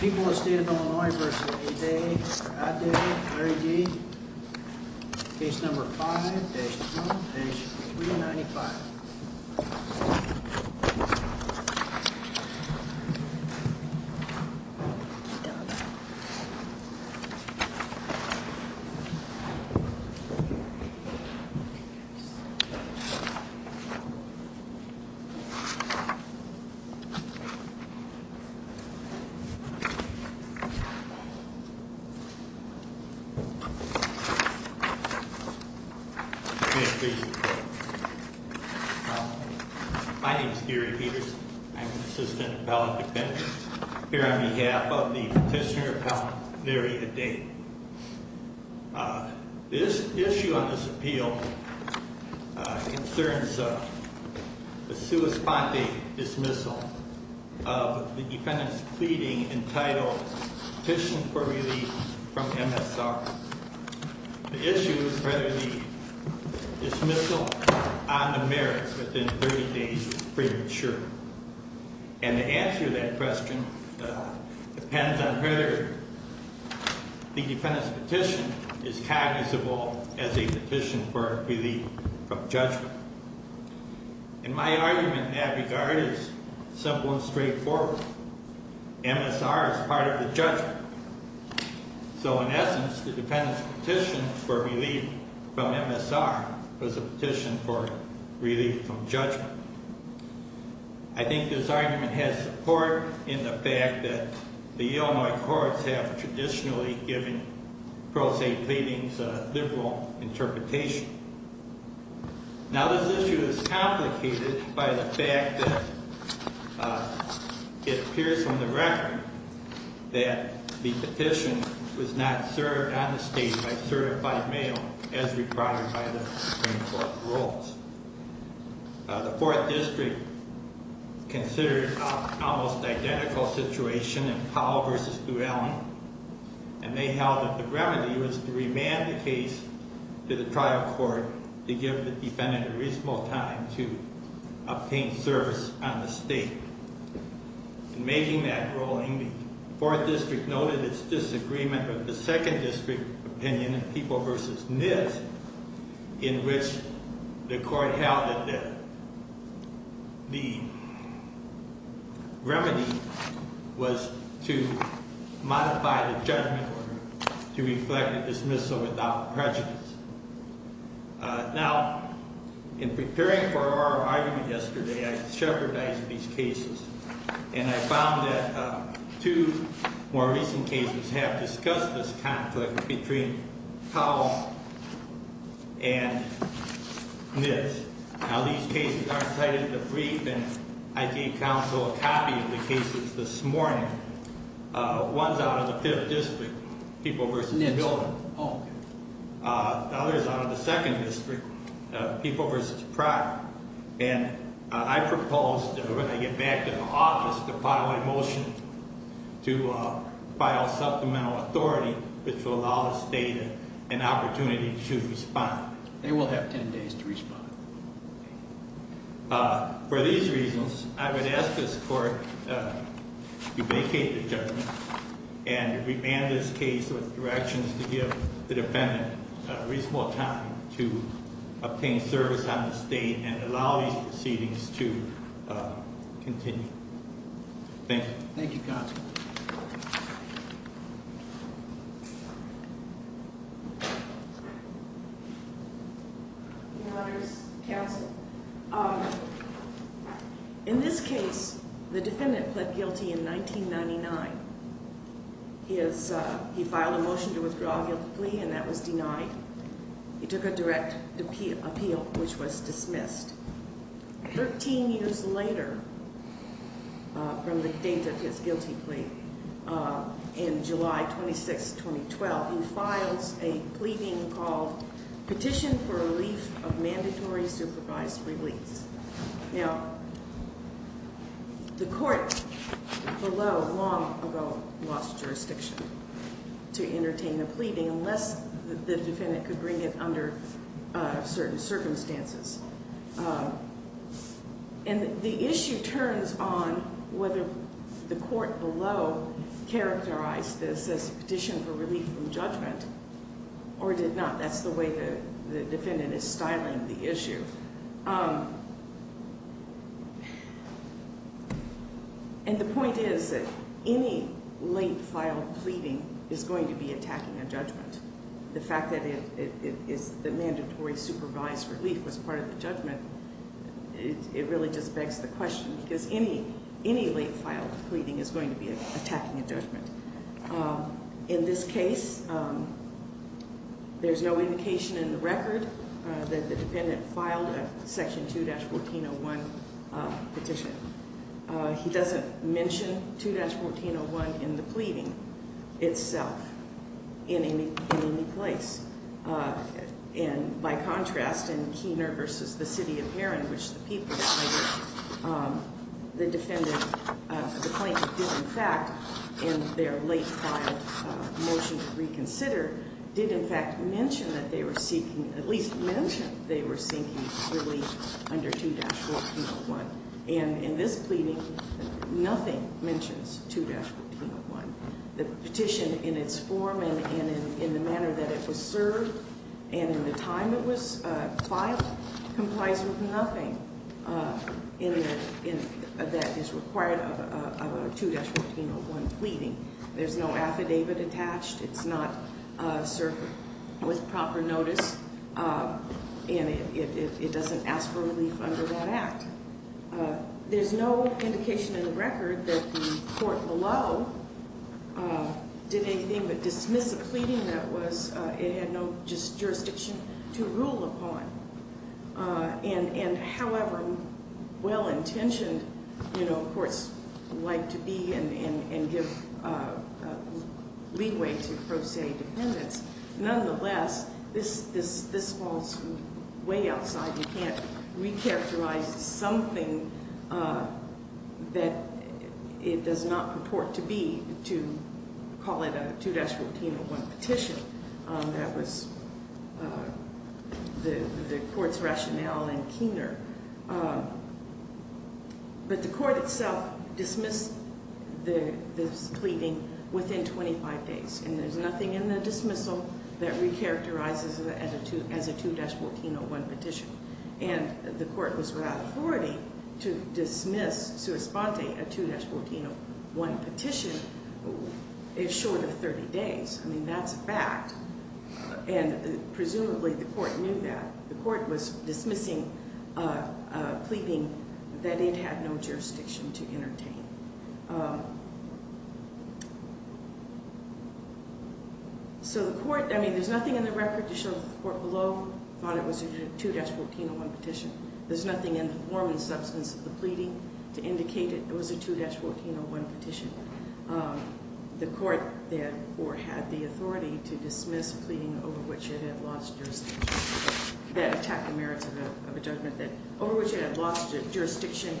People of the State of Illinois v. Aday, Aday, Larry D., Case No. 5-1-395. My name is Gary Peterson. I'm an assistant appellant defense here on behalf of the petitioner, and I'm going to be speaking in title, Petition for Relief from MSR. The issue is whether the dismissal on the merits within 30 days is premature. And the answer to that question depends on whether the defendant's petition is cognizable as a petition for relief from judgment. And my argument in that regard is simple and straightforward. MSR is part of the judgment. So in essence, the defendant's petition for relief from MSR was a petition for relief from judgment. I think this argument has support in the fact that the Illinois courts have traditionally given pro se pleadings a liberal interpretation. Now, this issue is complicated by the fact that it appears from the record that the petition was not served on the stage by certified mail as required by the Supreme Court rules. The Fourth District considered an almost identical situation in Powell v. Duellen, and they held that the remedy was to remand the case to the trial court to give the defendant a reasonable time to obtain service on the state. In making that ruling, the Fourth District noted its disagreement with the Second District opinion in People v. NIST, in which the court held that the remedy was to modify the judgment order to reflect the dismissal without prejudice. Now, in preparing for our argument yesterday, I shepherdized these cases, and I found that two more recent cases have discussed this conflict between Powell and NIST. Now, these cases aren't cited in the brief, and I gave counsel a copy of the cases this morning. One's out of the Fifth District, People v. Duellen. The other's out of the Second District, People v. Pratt. And I proposed, when I get back to the office, to file a motion to file supplemental authority, which will allow the state an opportunity to respond. They will have ten days to respond. For these reasons, I would ask this court to vacate the judgment and remand this case with directions to give the defendant a reasonable time to obtain service on the state and allow these proceedings to continue. Thank you. Thank you, counsel. In this case, the defendant pled guilty in 1999. He filed a motion to withdraw a guilty plea, and that was denied. He took a direct appeal, which was dismissed. Thirteen years later, from the date of his guilty plea, in July 26, 2012, he files a pleading called Petition for Relief of Mandatory Supervised Reliefs. Now, the court below long ago lost jurisdiction to entertain a pleading unless the defendant could bring it under certain circumstances. And the issue turns on whether the court below characterized this as a petition for relief from judgment or did not. That's the way the defendant is styling the issue. And the point is that any late filed pleading is going to be attacking a judgment. The fact that the mandatory supervised relief was part of the judgment, it really just begs the question, because any late filed pleading is going to be attacking a judgment. In this case, there's no indication in the record that the defendant filed a Section 2-1401 petition. He doesn't mention 2-1401 in the pleading itself in any place. By contrast, in Keener v. The City of Heron, which the people cited, the plaintiff did in fact, in their late filed motion to reconsider, did in fact mention that they were seeking relief under 2-1401. In this pleading, nothing mentions 2-1401. The petition in its form and in the manner that it was served and in the time it was filed complies with nothing that is required of a 2-1401 pleading. There's no affidavit attached. It's not served with proper notice, and it doesn't ask for relief under that act. There's no indication in the record that the court below did anything but dismiss a pleading that it had no jurisdiction to rule upon. However well-intentioned courts like to be and give leeway to pro se defendants, nonetheless, this falls way outside. You can't recharacterize something that it does not purport to be to call it a 2-1401 petition. That was the court's rationale in Keener. But the court itself dismissed this pleading within 25 days, and there's nothing in the dismissal that recharacterizes it as a 2-1401 petition. And the court was without authority to dismiss, sua sponte, a 2-1401 petition. It's short of 30 days. I mean, that's a fact. And presumably the court knew that. The court was dismissing a pleading that it had no jurisdiction to entertain. So the court, I mean, there's nothing in the record to show that the court below thought it was a 2-1401 petition. There's nothing in the form and substance of the pleading to indicate that it was a 2-1401 petition. The court, therefore, had the authority to dismiss a pleading that attacked the merits of a judgment over which it had lost jurisdiction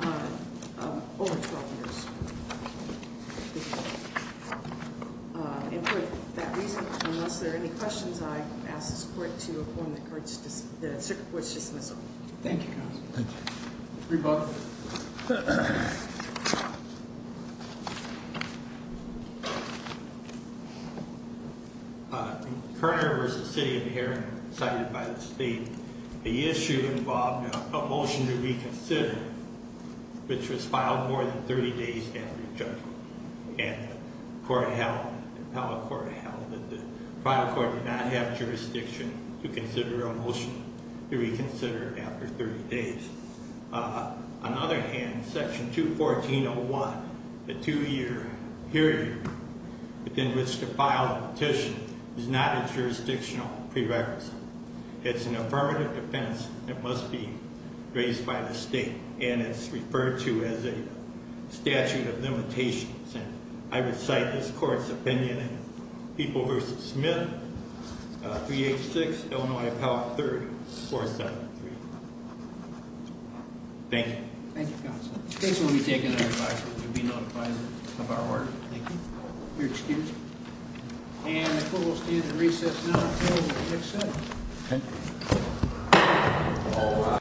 over 12 years. And for that reason, unless there are any questions, I ask this court to affirm the circuit court's dismissal. Thank you, counsel. Thank you. Rebuttal. Kerner v. City of Heron, cited by the state. The issue involved a motion to reconsider, which was filed more than 30 days after judgment. And the court held, the appellate court held that the final court did not have jurisdiction to consider a motion to reconsider after 30 days. On the other hand, Section 214.01, the two-year period within which to file a petition, is not a jurisdictional prerequisite. It's an affirmative defense that must be raised by the state, and it's referred to as a statute of limitations. I would cite this court's opinion in People v. Smith, 386 Illinois Appellate 3rd, 473. Thank you. Thank you, counsel. This will be taken under advisory. You'll be notified of our work. Thank you. You're excused. And the court will stand at recess now until next session. Thank you.